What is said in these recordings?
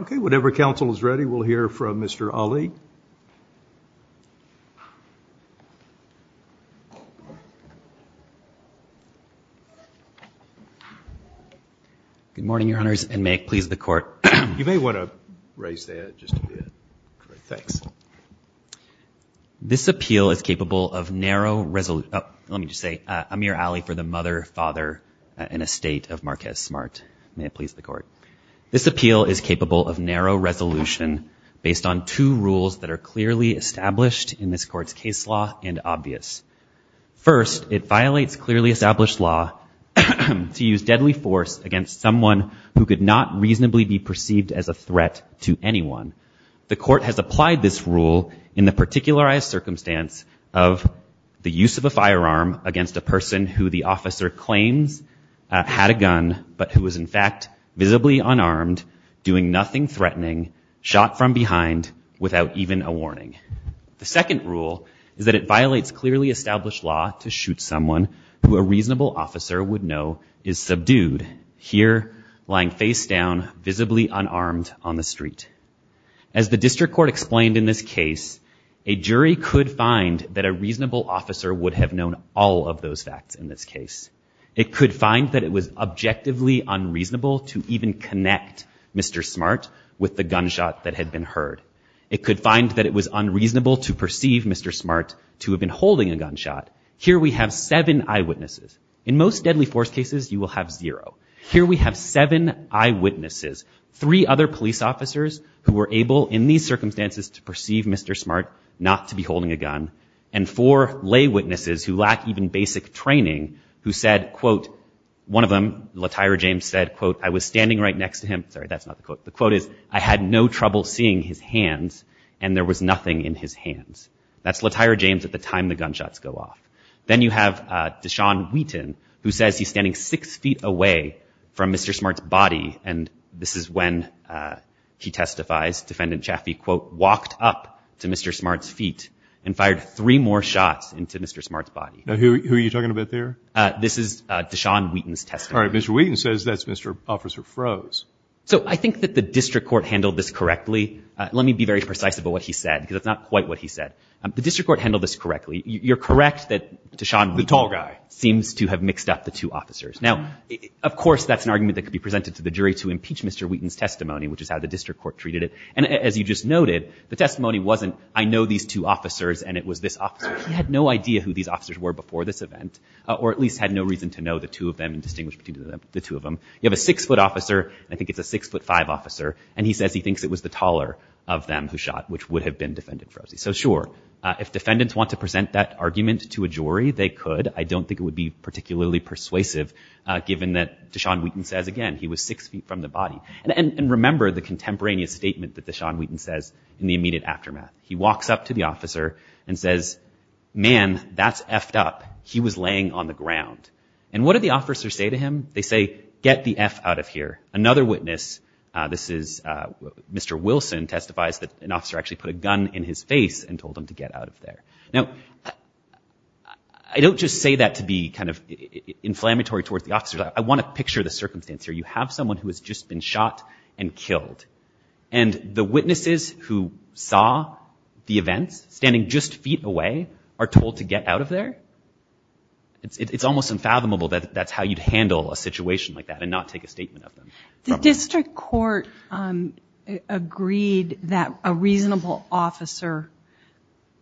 Okay, whatever counsel is ready, we'll hear from Mr. Ali. Good morning, Your Honors, and may it please the Court. You may want to raise the head just a bit. Thanks. This appeal is capable of narrow resolution. Let me just say, Amir Ali for the mother, father, and estate of Marquez Smart. May it please the Court. This appeal is capable of narrow resolution based on two rules that are clearly established in this Court's case law and obvious. First, it violates clearly established law to use deadly force against someone who could not reasonably be perceived as a threat to anyone. The Court has applied this rule in the particularized circumstance of the use of a firearm against a person who the officer claims had a gun but who was in fact visibly unarmed, doing nothing threatening, shot from behind, without even a warning. The second rule is that it violates clearly established law to shoot someone who a reasonable officer would know is subdued, here lying face down, visibly unarmed, on the street. As the District Court explained in this case, a jury could find that a reasonable officer would have known all of those facts in this case. It could find that it was objectively unreasonable to even connect Mr. Smart with the gunshot that had been heard. It could find that it was unreasonable to perceive Mr. Smart to have been holding a gunshot. Here we have seven eyewitnesses. In most deadly force cases, you will have zero. Here we have seven eyewitnesses, three other police officers who were able in these circumstances to perceive Mr. Smart not to be holding a gun, and four lay witnesses who lack even basic training who said, quote, one of them, Latyra James, said, quote, I was standing right next to him. Sorry, that's not the quote. The quote is, I had no trouble seeing his hands and there was nothing in his hands. That's Latyra James at the time the gunshots go off. Then you have Deshawn Wheaton, who says he's standing six feet away from Mr. Smart's body, and this is when he testifies, defendant Chaffee, quote, walked up to Mr. Smart's feet and fired three more shots into Mr. Smart's body. Who are you talking about there? This is Deshawn Wheaton's testimony. All right, Mr. Wheaton says that's Mr. Officer Froese. So I think that the district court handled this correctly. Let me be very precise about what he said because that's not quite what he said. The district court handled this correctly. You're correct that Deshawn Wheaton seems to have mixed up the two officers. Now, of course, that's an argument that could be presented to the jury to impeach Mr. Wheaton's testimony, which is how the district court treated it, and as you just noted, the testimony wasn't, I know these two officers and it was this officer. He had no idea who these officers were before this event or at least had no reason to know the two of them and distinguish between the two of them. You have a six-foot officer, and I think it's a six-foot-five officer, and he says he thinks it was the taller of them who shot, which would have been defendant Froese. So sure, if defendants want to present that argument to a jury, they could. I don't think it would be particularly persuasive given that Deshawn Wheaton says, again, he was six feet from the body. And remember the contemporaneous statement that Deshawn Wheaton says in the immediate aftermath. He walks up to the officer and says, man, that's effed up. He was laying on the ground. And what do the officers say to him? They say, get the eff out of here. Another witness, this is Mr. Wilson, testifies that an officer actually put a gun in his face and told him to get out of there. Now, I don't just say that to be kind of inflammatory towards the officers. I want to picture the circumstance here. You have someone who has just been shot and killed. And the witnesses who saw the events, standing just feet away, are told to get out of there. It's almost unfathomable that that's how you'd handle a situation like that and not take a statement of them. The district court agreed that a reasonable officer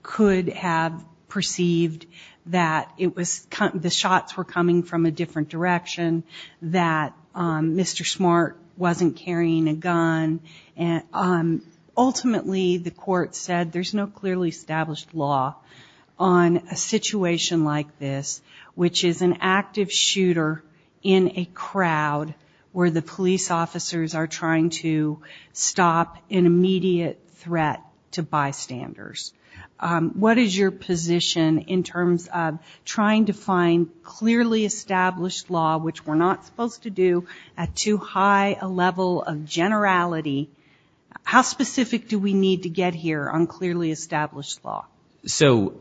could have perceived that the shots were coming from a different direction, that Mr. Smart wasn't carrying a gun. Ultimately, the court said there's no clearly established law on a situation like this, which is an active shooter in a crowd where the police officers are trying to stop an immediate threat to bystanders. What is your position in terms of trying to find clearly established law which we're not supposed to do at too high a level of generality? How specific do we need to get here on clearly established law? So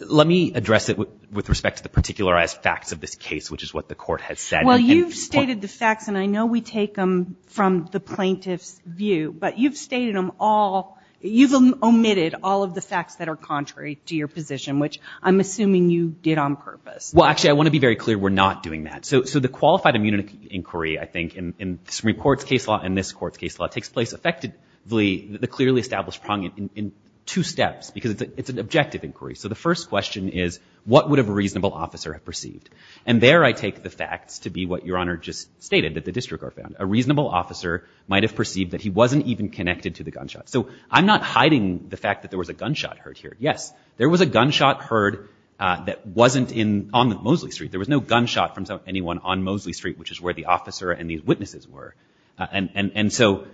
let me address it with respect to the particularized facts of this case, which is what the court has said. Well, you've stated the facts, and I know we take them from the plaintiff's view, but you've stated them all. You've omitted all of the facts that are contrary to your position, which I'm assuming you did on purpose. Well, actually, I want to be very clear. We're not doing that. So the qualified immunity inquiry, I think, in this report's case law and this court's case law, takes place effectively the clearly established prong in two steps because it's an objective inquiry. So the first question is what would a reasonable officer have perceived? And there I take the facts to be what Your Honor just stated that the district court found. A reasonable officer might have perceived that he wasn't even connected to the gunshot. So I'm not hiding the fact that there was a gunshot heard here. Yes, there was a gunshot heard that wasn't on Mosley Street. There was no gunshot from anyone on Mosley Street, which is where the officer and these witnesses were. And so,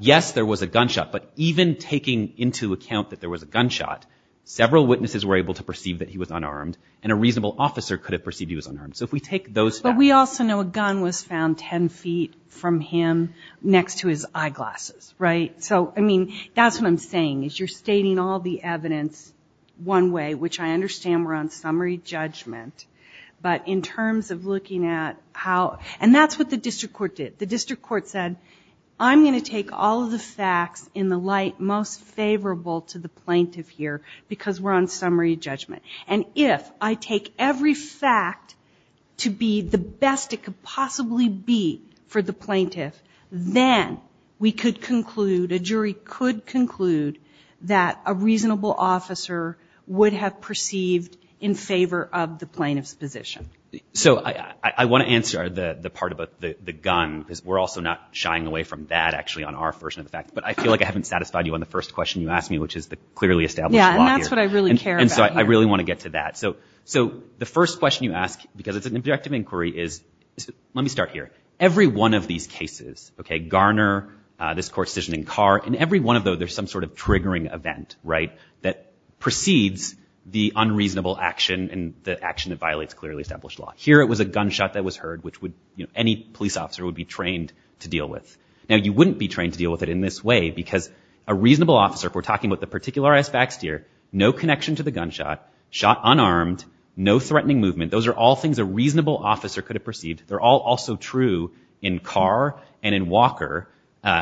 yes, there was a gunshot, but even taking into account that there was a gunshot, several witnesses were able to perceive that he was unarmed, and a reasonable officer could have perceived he was unarmed. So if we take those facts. But we also know a gun was found 10 feet from him next to his eyeglasses, right? So, I mean, that's what I'm saying, is you're stating all the evidence one way, which I understand we're on summary judgment. But in terms of looking at how – and that's what the district court did. The district court said, I'm going to take all of the facts in the light most favorable to the plaintiff here because we're on summary judgment. And if I take every fact to be the best it could possibly be for the plaintiff, then we could conclude, a jury could conclude, that a reasonable officer would have perceived in favor of the plaintiff's position. So I want to answer the part about the gun because we're also not shying away from that, actually, on our version of the fact. But I feel like I haven't satisfied you on the first question you asked me, which is the clearly established law here. Yeah, and that's what I really care about here. And so I really want to get to that. So the first question you ask, because it's an objective inquiry, is – let me start here. Every one of these cases, Garner, this court decision in Carr, in every one of those there's some sort of triggering event, right, that precedes the unreasonable action and the action that violates clearly established law. Here it was a gunshot that was heard, which any police officer would be trained to deal with. Now, you wouldn't be trained to deal with it in this way because a reasonable officer, if we're talking about the particularized facts here, no connection to the gunshot, shot unarmed, no threatening movement, those are all things a reasonable officer could have perceived. They're all also true in Carr and in Walker.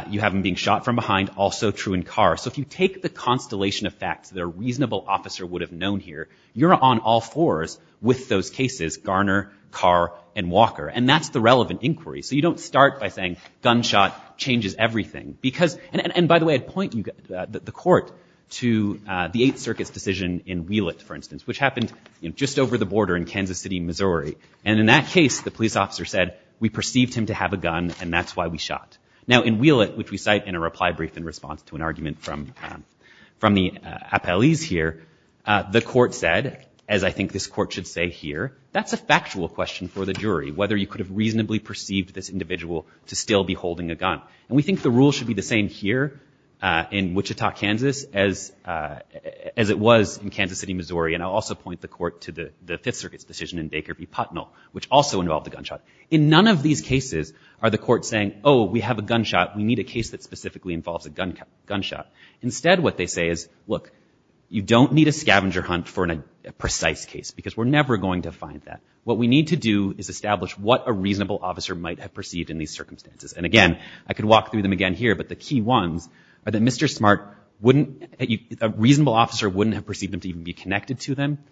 You have them being shot from behind, also true in Carr. So if you take the constellation of facts that a reasonable officer would have known here, you're on all fours with those cases, Garner, Carr, and Walker. And that's the relevant inquiry. So you don't start by saying gunshot changes everything because – and by the way, I'd point the court to the Eighth Circuit's decision in Wheelett, for instance, which happened just over the border in Kansas City, Missouri. And in that case, the police officer said, we perceived him to have a gun and that's why we shot. Now, in Wheelett, which we cite in a reply brief in response to an argument from the appellees here, the court said, as I think this court should say here, that's a factual question for the jury, whether you could have reasonably perceived this individual to still be holding a gun. And we think the rule should be the same here in Wichita, Kansas, as it was in Kansas City, Missouri. And I'll also point the court to the Fifth Circuit's decision in Baker v. Putnell, which also involved a gunshot. In none of these cases are the courts saying, oh, we have a gunshot. We need a case that specifically involves a gunshot. Instead, what they say is, look, you don't need a scavenger hunt for a precise case because we're never going to find that. What we need to do is establish what a reasonable officer might have perceived in these circumstances. And again, I could walk through them again here, but the key ones are that Mr. Smart wouldn't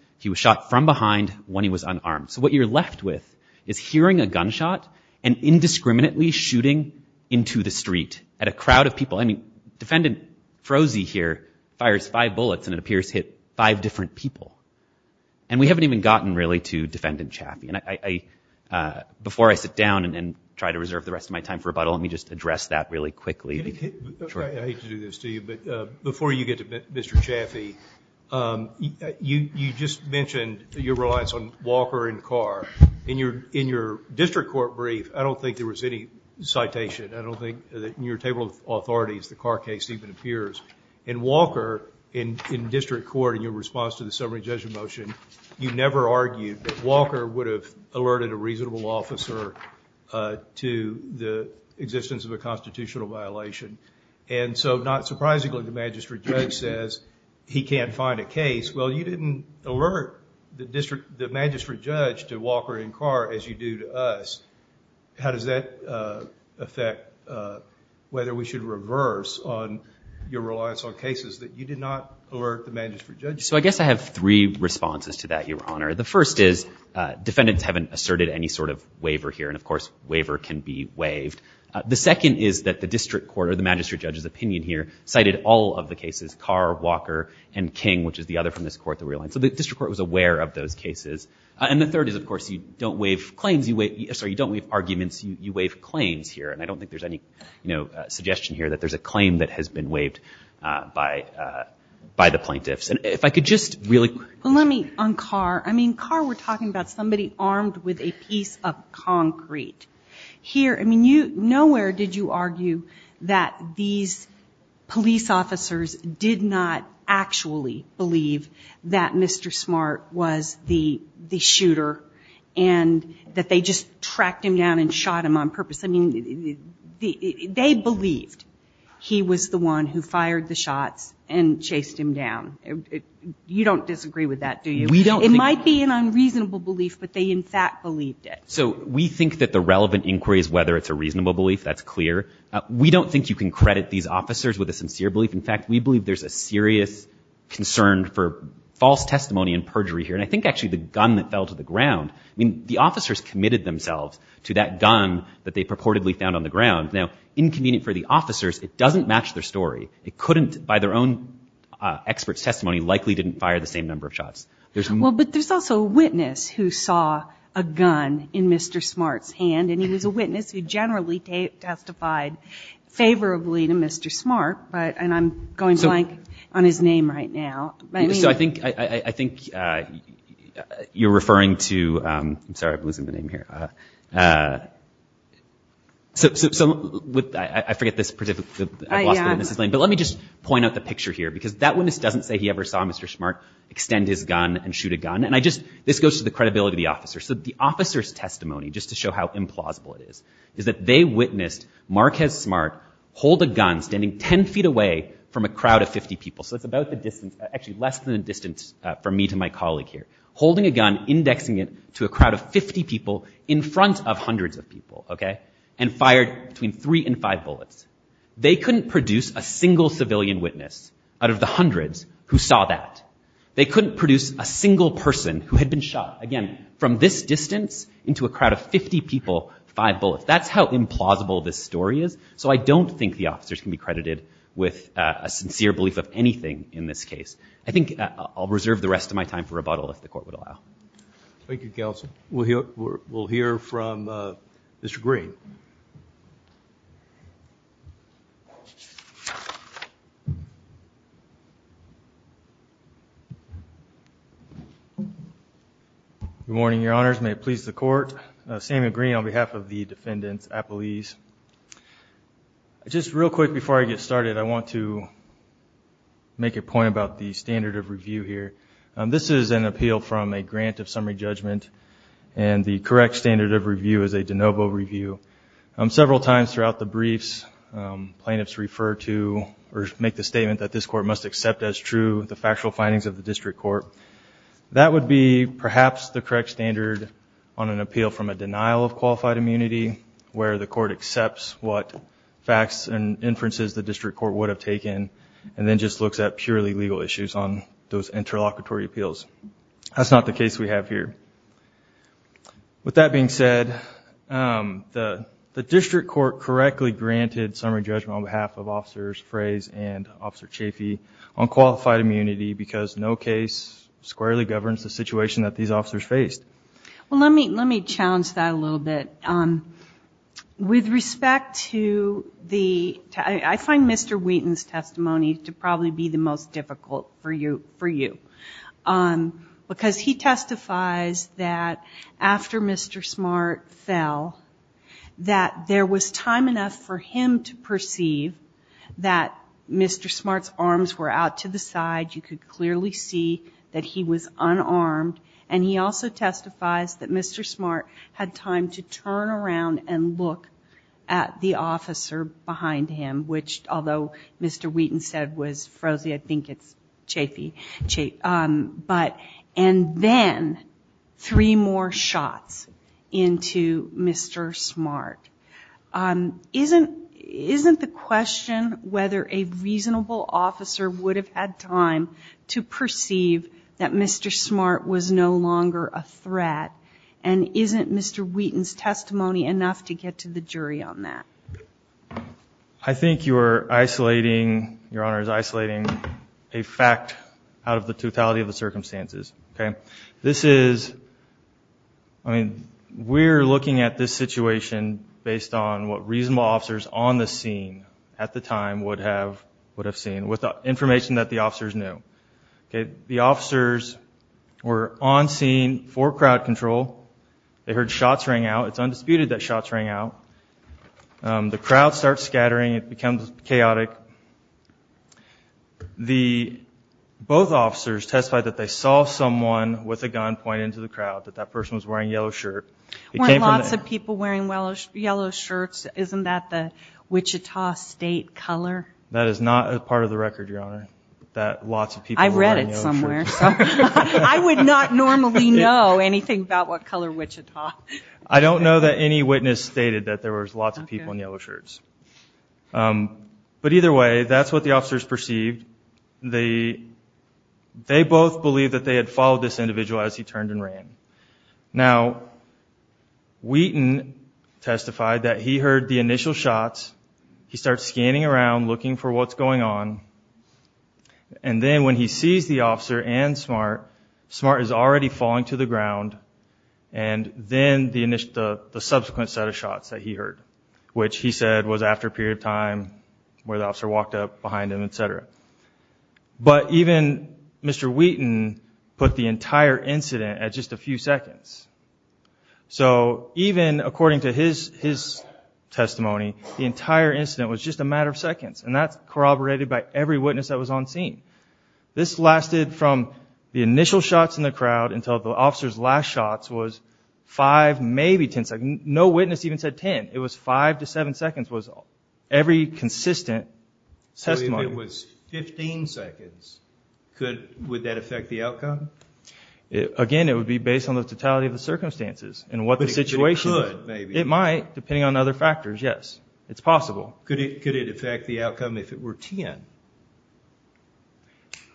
– he was shot from behind when he was unarmed. So what you're left with is hearing a gunshot and indiscriminately shooting into the street at a crowd of people. I mean, Defendant Froese here fires five bullets and it appears hit five different people. And we haven't even gotten really to Defendant Chaffee. And before I sit down and try to reserve the rest of my time for rebuttal, let me just address that really quickly. I hate to do this to you, but before you get to Mr. Chaffee, you just mentioned your reliance on Walker and Carr. In your district court brief, I don't think there was any citation. I don't think that in your table of authorities the Carr case even appears. In Walker, in district court, in your response to the summary judgment motion, you never argued that Walker would have alerted a reasonable officer to the existence of a constitutional violation. And so not surprisingly, the magistrate judge says he can't find a case. Well, you didn't alert the magistrate judge to Walker and Carr as you do to us. How does that affect whether we should reverse on your reliance on cases that you did not alert the magistrate judge? So I guess I have three responses to that, Your Honor. The first is defendants haven't asserted any sort of waiver here. And, of course, waiver can be waived. The second is that the district court or the magistrate judge's opinion here cited all of the cases, Carr, Walker, and King, which is the other from this court, the real one. So the district court was aware of those cases. And the third is, of course, you don't waive claims. You waive – sorry, you don't waive arguments. You waive claims here. And I don't think there's any, you know, suggestion here that there's a claim that has been waived by the plaintiffs. And if I could just really – Well, let me – on Carr. I mean, Carr, we're talking about somebody armed with a piece of concrete. Here – I mean, nowhere did you argue that these police officers did not actually believe that Mr. Smart was the shooter and that they just tracked him down and shot him on purpose. I mean, they believed he was the one who fired the shots and chased him down. You don't disagree with that, do you? We don't. It might be an unreasonable belief, but they, in fact, believed it. So we think that the relevant inquiry is whether it's a reasonable belief. That's clear. We don't think you can credit these officers with a sincere belief. In fact, we believe there's a serious concern for false testimony and perjury here. And I think actually the gun that fell to the ground – I mean, the officers committed themselves to that gun that they purportedly found on the ground. Now, inconvenient for the officers, it doesn't match their story. It couldn't – by their own experts' testimony, likely didn't fire the same number of shots. Well, but there's also a witness who saw a gun in Mr. Smart's hand, and he was a witness who generally testified favorably to Mr. Smart. And I'm going blank on his name right now. So I think you're referring to – I'm sorry, I'm losing the name here. So I forget this – I've lost it, and this is lame. But let me just point out the picture here, because that witness doesn't say he ever saw Mr. Smart extend his gun and shoot a gun. And I just – this goes to the credibility of the officer. So the officer's testimony, just to show how implausible it is, is that they witnessed Marquez Smart hold a gun standing 10 feet away from a crowd of 50 people. So it's about the distance – actually less than the distance from me to my colleague here. Holding a gun, indexing it to a crowd of 50 people in front of hundreds of people, okay, and fired between three and five bullets. They couldn't produce a single civilian witness out of the hundreds who saw that. They couldn't produce a single person who had been shot, again, from this distance into a crowd of 50 people, five bullets. That's how implausible this story is. So I don't think the officers can be credited with a sincere belief of anything in this case. I think I'll reserve the rest of my time for rebuttal, if the Court would allow. Thank you, Counsel. We'll hear from Mr. Green. Good morning, Your Honors. May it please the Court. Samuel Green on behalf of the defendants, apologies. Just real quick before I get started, I want to make a point about the standard of review here. This is an appeal from a grant of summary judgment, and the correct standard of review is a de novo review. Several times throughout the briefs, plaintiffs refer to or make the statement that this Court must accept as true the factual findings of the District Court. That would be, perhaps, the correct standard on an appeal from a denial of qualified immunity, where the Court accepts what facts and inferences the District Court would have taken, and then just looks at purely legal issues on those interlocutory appeals. That's not the case we have here. With that being said, the District Court correctly granted summary judgment on behalf of Officers Frey's and Officer Chafee on qualified immunity because no case squarely governs the situation that these officers faced. Well, let me challenge that a little bit. With respect to the – I find Mr. Wheaton's testimony to probably be the most difficult for you, because he testifies that after Mr. Smart fell, that there was time enough for him to perceive that Mr. Smart's arms were out to the side, you could clearly see that he was unarmed, and he also testifies that Mr. Smart had time to turn around and look at the officer behind him, which, although Mr. Wheaton said was frozy, I think it's Chafee. And then three more shots into Mr. Smart. Isn't the question whether a reasonable officer would have had time to perceive that Mr. Smart was no longer a threat? And isn't Mr. Wheaton's testimony enough to get to the jury on that? I think you are isolating – Your Honor is isolating a fact out of the totality of the circumstances. Okay? This is – I mean, we're looking at this situation based on what reasonable officers on the scene at the time would have seen, with the information that the officers knew. Okay? The officers were on scene for crowd control. They heard shots rang out. It's undisputed that shots rang out. The crowd starts scattering. It becomes chaotic. The – both officers testified that they saw someone with a gun point into the crowd, that that person was wearing a yellow shirt. Weren't lots of people wearing yellow shirts? Isn't that the Wichita State color? That is not a part of the record, Your Honor, that lots of people were wearing yellow shirts. I read it somewhere. I would not normally know anything about what color Wichita. I don't know that any witness stated that there was lots of people in yellow shirts. But either way, that's what the officers perceived. They both believed that they had followed this individual as he turned and ran. Now, Wheaton testified that he heard the initial shots. He starts scanning around, looking for what's going on. And then when he sees the officer and Smart, Smart is already falling to the ground. And then the subsequent set of shots that he heard, which he said was after a period of time where the officer walked up behind him, et cetera. But even Mr. Wheaton put the entire incident at just a few seconds. So even according to his testimony, the entire incident was just a matter of seconds, and that's corroborated by every witness that was on scene. This lasted from the initial shots in the crowd until the officer's last shots was five, maybe ten seconds. No witness even said ten. It was five to seven seconds was every consistent testimony. So if it was 15 seconds, would that affect the outcome? Again, it would be based on the totality of the circumstances and what the situation is. But it could, maybe. It might, depending on other factors, yes. It's possible. Could it affect the outcome if it were ten?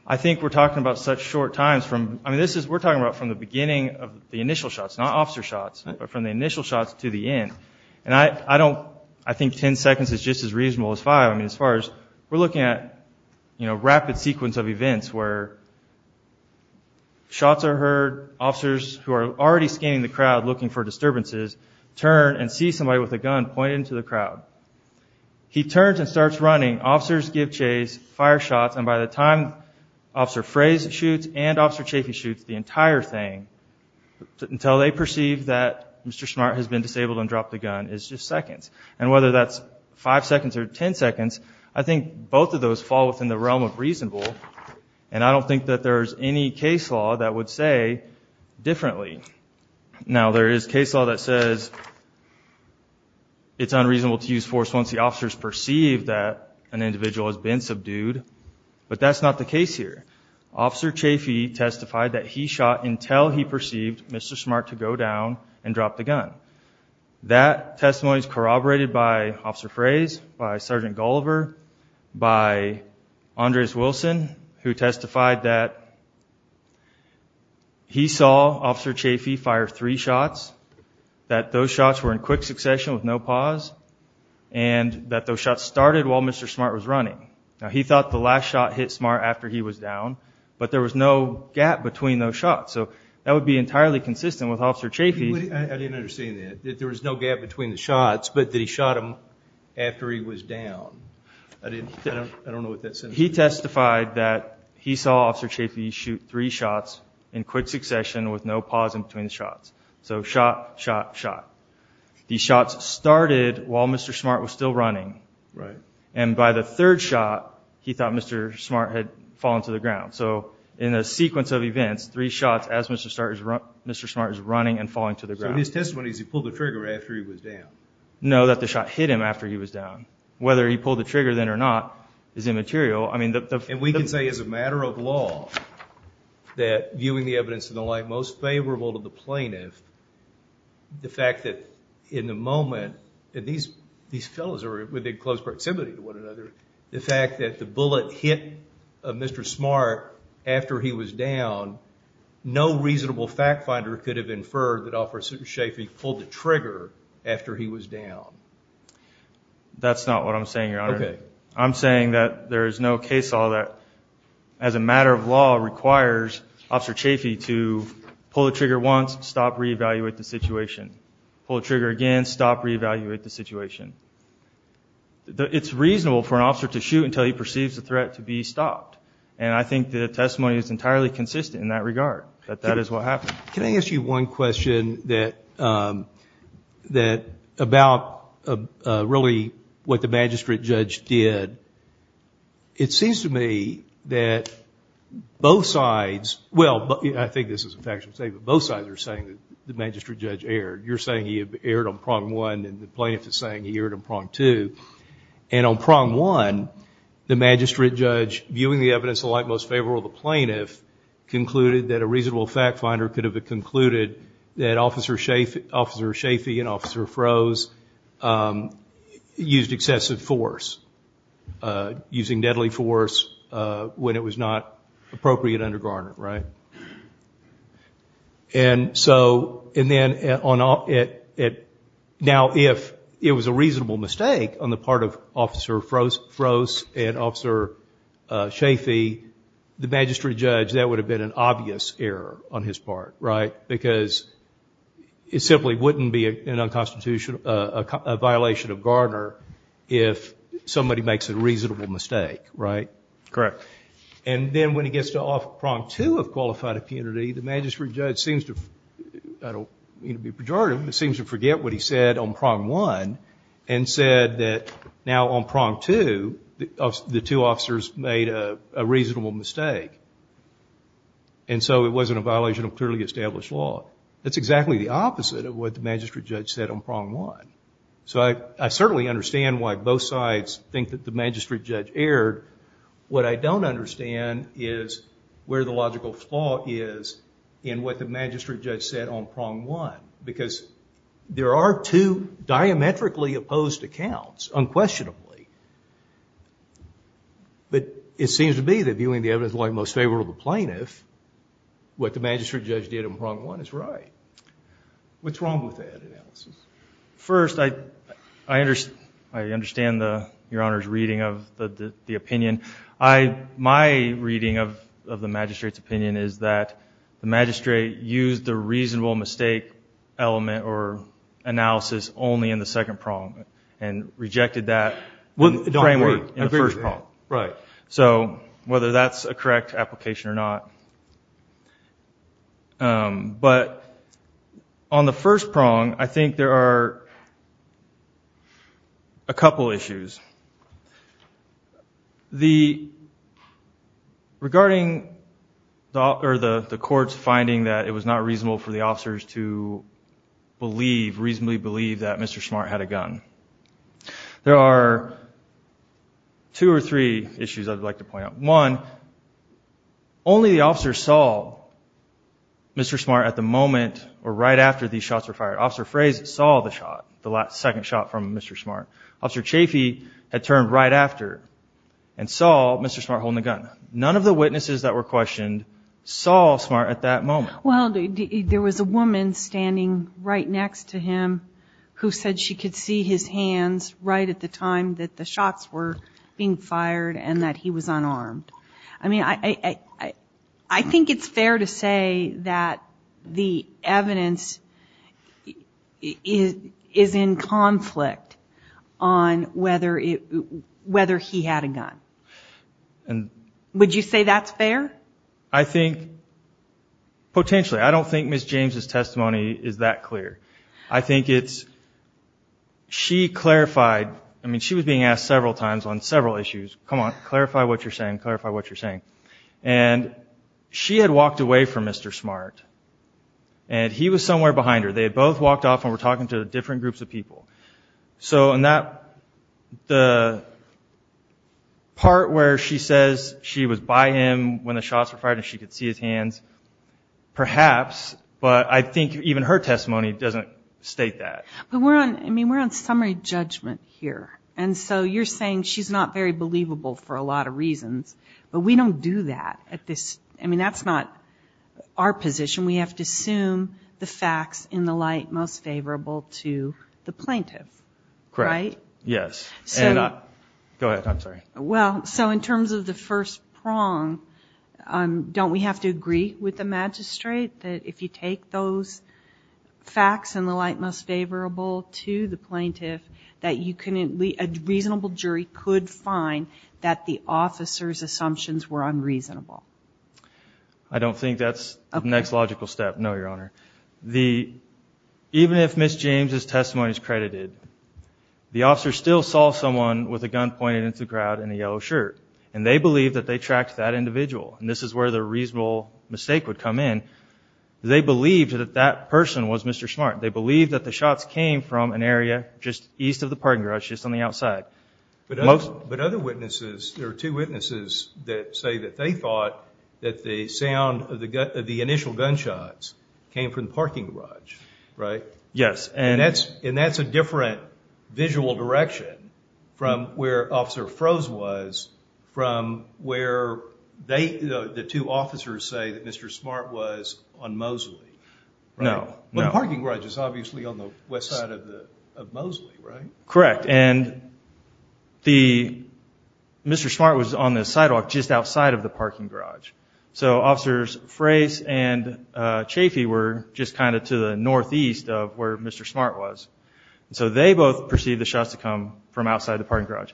I think we're talking about such short times. I mean, we're talking about from the beginning of the initial shots, not officer shots, but from the initial shots to the end. And I think ten seconds is just as reasonable as five. I mean, as far as we're looking at rapid sequence of events where shots are heard, officers who are already scanning the crowd looking for disturbances turn and see somebody with a gun pointed into the crowd. He turns and starts running. Officers give chase, fire shots, and by the time Officer Frey shoots and Officer Chafee shoots, the entire thing, until they perceive that Mr. Smart has been disabled and dropped the gun, is just seconds. And whether that's five seconds or ten seconds, I think both of those fall within the realm of reasonable, and I don't think that there's any case law that would say differently. Now, there is case law that says it's unreasonable to use force once the officer's perceived that an individual has been subdued, but that's not the case here. Officer Chafee testified that he shot until he perceived Mr. Smart to go down and drop the gun. That testimony is corroborated by Officer Frey's, by Sergeant Gulliver, by Andres Wilson, who testified that he saw Officer Chafee fire three shots, that those shots were in quick succession with no pause, and that those shots started while Mr. Smart was running. Now, he thought the last shot hit Smart after he was down, but there was no gap between those shots, so that would be entirely consistent with Officer Chafee. I didn't understand that, that there was no gap between the shots, but that he shot him after he was down. I don't know what that says. He testified that he saw Officer Chafee shoot three shots in quick succession with no pause in between the shots. So shot, shot, shot. The shots started while Mr. Smart was still running, and by the third shot, he thought Mr. Smart had fallen to the ground. So in a sequence of events, three shots as Mr. Smart is running and falling to the ground. So his testimony is he pulled the trigger after he was down? No, that the shot hit him after he was down. Whether he pulled the trigger then or not is immaterial. And we can say as a matter of law that viewing the evidence in the light most favorable to the plaintiff, the fact that in the moment that these fellows are within close proximity to one another, the fact that the bullet hit Mr. Smart after he was down, no reasonable fact finder could have inferred that Officer Chafee pulled the trigger after he was down. That's not what I'm saying, Your Honor. I'm saying that there is no case law that as a matter of law requires Officer Chafee to pull the trigger once, stop, re-evaluate the situation. Pull the trigger again, stop, re-evaluate the situation. It's reasonable for an officer to shoot until he perceives the threat to be stopped, and I think the testimony is entirely consistent in that regard, that that is what happened. Can I ask you one question about really what the magistrate judge did? It seems to me that both sides, well, I think this is a factual statement, both sides are saying that the magistrate judge erred. You're saying he erred on prong one, and the plaintiff is saying he erred on prong two. And on prong one, the magistrate judge, viewing the evidence in the light most favorable to the plaintiff, concluded that a reasonable fact finder could have concluded that Officer Chafee and Officer Froese used excessive force, using deadly force when it was not appropriate under Garner, right? And so, and then now if it was a reasonable mistake on the part of Officer Froese and Officer Chafee, the magistrate judge, that would have been an obvious error on his part, right? Because it simply wouldn't be a violation of Garner if somebody makes a reasonable mistake, right? Correct. And then when he gets to off prong two of qualified impunity, the magistrate judge seems to, I don't mean to be pejorative, but seems to forget what he said on prong one and said that now on prong two, the two officers made a reasonable mistake. And so it wasn't a violation of clearly established law. That's exactly the opposite of what the magistrate judge said on prong one. So I certainly understand why both sides think that the magistrate judge erred. What I don't understand is where the logical flaw is in what the magistrate judge said on prong one. Because there are two diametrically opposed accounts, unquestionably. But it seems to be that viewing the evidence of the most favorable plaintiff, what the magistrate judge did on prong one is right. What's wrong with that analysis? First, I understand Your Honor's reading of the opinion. My reading of the magistrate's opinion is that the magistrate used the reasonable mistake element or analysis only in the second prong and rejected that framework in the first prong. So whether that's a correct application or not. But on the first prong, I think there are a couple issues. Regarding the court's finding that it was not reasonable for the officers to believe, reasonably believe that Mr. Smart had a gun, there are two or three issues I'd like to point out. One, only the officer saw Mr. Smart at the moment or right after these shots were fired. Officer Fraze saw the shot, the second shot from Mr. Smart. Officer Chafee had turned right after and saw Mr. Smart holding the gun. None of the witnesses that were questioned saw Smart at that moment. Well, there was a woman standing right next to him who said she could see his hands right at the time that the shots were being fired and that he was unarmed. I mean, I think it's fair to say that the evidence is in conflict on whether he had a gun. Would you say that's fair? I think potentially. I don't think Ms. James' testimony is that clear. I think it's, she clarified, I mean, she was being asked several times on several issues, come on, clarify what you're saying, clarify what you're saying. And she had walked away from Mr. Smart and he was somewhere behind her. They had both walked off and were talking to different groups of people. So in that, the part where she says she was by him when the shots were fired and she could see his hands, perhaps, but I think even her testimony doesn't state that. But we're on summary judgment here. And so you're saying she's not very believable for a lot of reasons. But we don't do that at this, I mean, that's not our position. We have to assume the facts in the light most favorable to the plaintiff, right? Correct, yes. Go ahead, I'm sorry. Well, so in terms of the first prong, don't we have to agree with the magistrate that if you take those facts in the light most favorable to the plaintiff that you can, a reasonable jury could find that the officer's assumptions were unreasonable? I don't think that's the next logical step, no, Your Honor. Even if Ms. James' testimony is credited, the officer still saw someone with a gun pointed into the crowd in a yellow shirt. And they believed that they tracked that individual. And this is where the reasonable mistake would come in. They believed that that person was Mr. Smart. They believed that the shots came from an area just east of the parking garage, just on the outside. But other witnesses, there are two witnesses that say that they thought that the sound of the initial gunshots came from the parking garage, right? Yes. And that's a different visual direction from where Officer Froese was from where the two officers say that Mr. Smart was on Mosley, right? No, no. But the parking garage is obviously on the west side of Mosley, right? Correct. And Mr. Smart was on the sidewalk just outside of the parking garage. So Officers Froese and Chafee were just kind of to the northeast of where Mr. Smart was. So they both perceived the shots to come from outside the parking garage.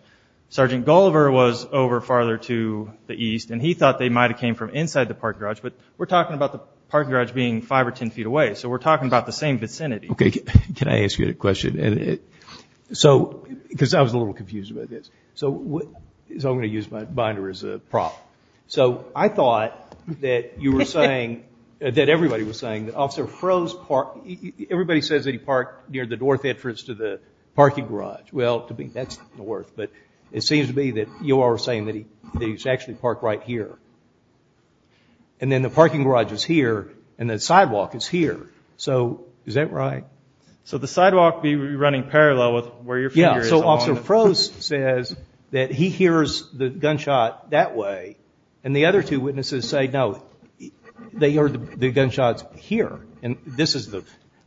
Sergeant Gulliver was over farther to the east, and he thought they might have came from inside the parking garage. But we're talking about the parking garage being 5 or 10 feet away, so we're talking about the same vicinity. Okay. Can I ask you a question? Because I was a little confused about this. So I'm going to use my binder as a prop. So I thought that you were saying, that everybody was saying that Officer Froese parked, everybody says that he parked near the north entrance to the parking garage. Well, that's north. But it seems to be that you are saying that he's actually parked right here. And then the parking garage is here, and the sidewalk is here. So is that right? So the sidewalk would be running parallel with where your finger is. Yeah, so Officer Froese says that he hears the gunshot that way, and the other two witnesses say, no, they heard the gunshots here. And this is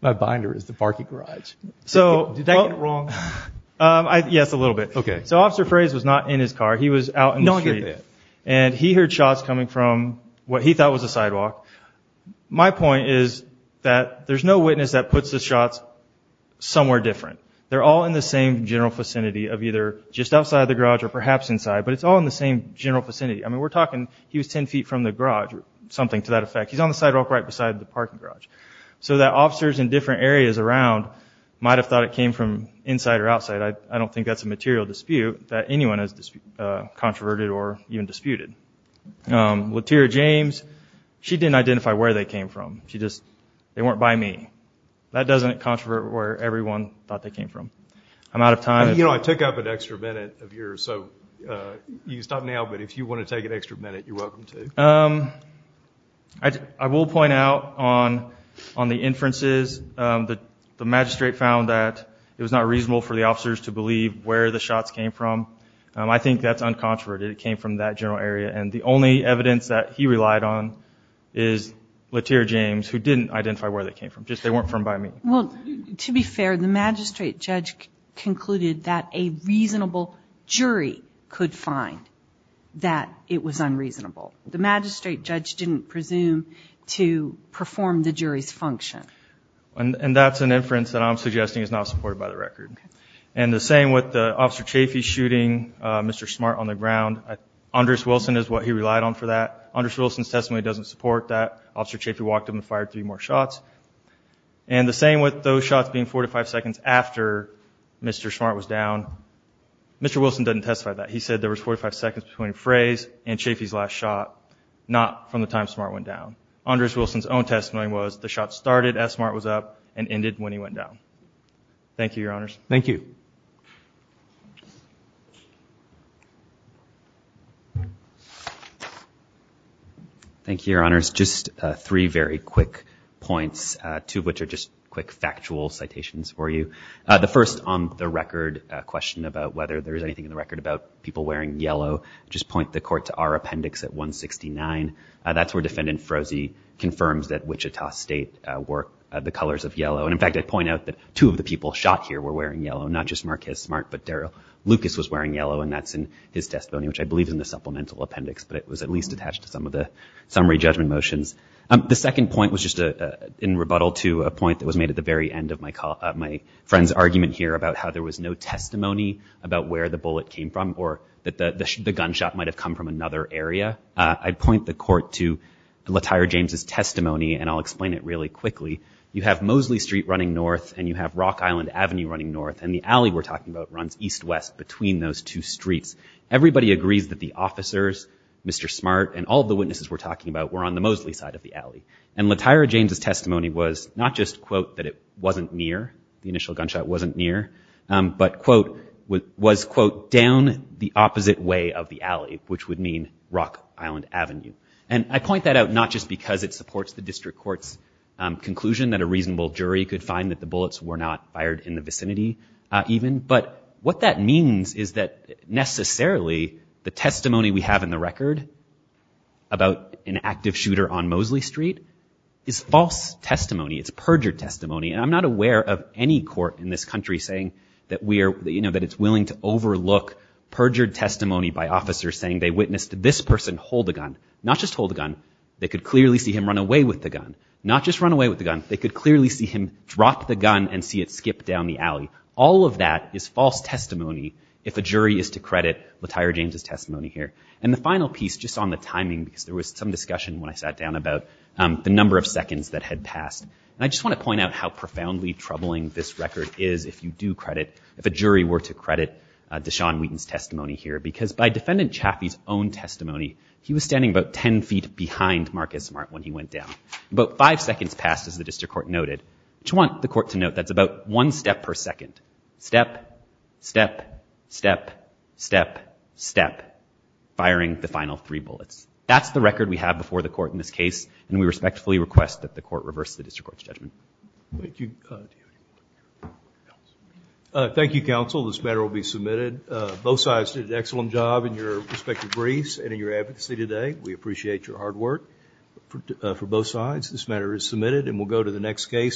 my binder is the parking garage. Did I get it wrong? Yes, a little bit. Okay. So Officer Froese was not in his car. He was out in the street. No, I get that. And he heard shots coming from what he thought was a sidewalk. My point is that there's no witness that puts the shots somewhere different. They're all in the same general vicinity of either just outside the garage or perhaps inside, but it's all in the same general vicinity. I mean, we're talking he was 10 feet from the garage or something to that effect. He's on the sidewalk right beside the parking garage. So that officers in different areas around might have thought it came from inside or outside. I don't think that's a material dispute that anyone has controverted or even disputed. Latira James, she didn't identify where they came from. She just, they weren't by me. That doesn't controvert where everyone thought they came from. I'm out of time. You know, I took up an extra minute of yours, so you can stop now, but if you want to take an extra minute, you're welcome to. I will point out on the inferences, the magistrate found that it was not reasonable for the officers to believe where the shots came from. I think that's uncontroverted. It came from that general area, and the only evidence that he relied on is Latira James, who didn't identify where they came from. Just they weren't from by me. Well, to be fair, the magistrate judge concluded that a reasonable jury could find that it was unreasonable. The magistrate judge didn't presume to perform the jury's function. And that's an inference that I'm suggesting is not supported by the record. And the same with the Officer Chaffee shooting Mr. Smart on the ground. Andres Wilson is what he relied on for that. Andres Wilson's testimony doesn't support that. Officer Chaffee walked up and fired three more shots. And the same with those shots being 45 seconds after Mr. Smart was down. Mr. Wilson doesn't testify to that. He said there was 45 seconds between Frey's and Chaffee's last shot, not from the time Smart went down. Andres Wilson's own testimony was the shot started as Smart was up and ended when he went down. Thank you, Your Honors. Thank you. Thank you, Your Honors. Just three very quick points, two of which are just quick factual citations for you. The first on the record question about whether there is anything in the record about people wearing yellow, just point the court to our appendix at 169. That's where Defendant Froese confirms that Wichita State wore the colors of yellow. And, in fact, I'd point out that two of the people shot here were wearing yellow, not just Marcus Smart, but Daryl Lucas was wearing yellow, and that's in his testimony, which I believe is in the supplemental appendix. But it was at least attached to some of the summary judgment motions. The second point was just in rebuttal to a point that was made at the very end of my friend's argument here about how there was no testimony about where the bullet came from or that the gunshot might have come from another area. I'd point the court to Latire James' testimony, and I'll explain it really quickly. You have Mosley Street running north, and you have Rock Island Avenue running north, and the alley we're talking about runs east-west between those two streets. Everybody agrees that the officers, Mr. Smart, and all of the witnesses we're talking about were on the Mosley side of the alley. And Latire James' testimony was not just, quote, that it wasn't near, the initial gunshot wasn't near, but, quote, was, quote, down the opposite way of the alley, which would mean Rock Island Avenue. And I point that out not just because it supports the district court's conclusion that a reasonable jury could find that the bullets were not fired in the vicinity even, but what that means is that necessarily the testimony we have in the record about an active shooter on Mosley Street is false testimony. It's perjured testimony. And I'm not aware of any court in this country saying that we are, you know, that it's willing to overlook perjured testimony by officers saying they witnessed this person hold a gun. Not just hold a gun. They could clearly see him run away with the gun. Not just run away with the gun. They could clearly see him drop the gun and see it skip down the alley. All of that is false testimony if a jury is to credit Latire James' testimony here. And the final piece, just on the timing, because there was some discussion when I sat down about the number of seconds that had passed, and I just want to point out how profoundly troubling this record is if you do credit, if a jury were to credit Deshaun Wheaton's testimony here, because by Defendant Chaffee's own testimony, he was standing about ten feet behind Marcus Mart when he went down. About five seconds passed, as the district court noted. I just want the court to note that's about one step per second. Step, step, step, step, step, firing the final three bullets. That's the record we have before the court in this case, and we respectfully request that the court reverse the district court's judgment. Thank you. Thank you, counsel. This matter will be submitted. Both sides did an excellent job in your respective briefs and in your advocacy today. We appreciate your hard work for both sides. This matter is submitted, and we'll go to the next case.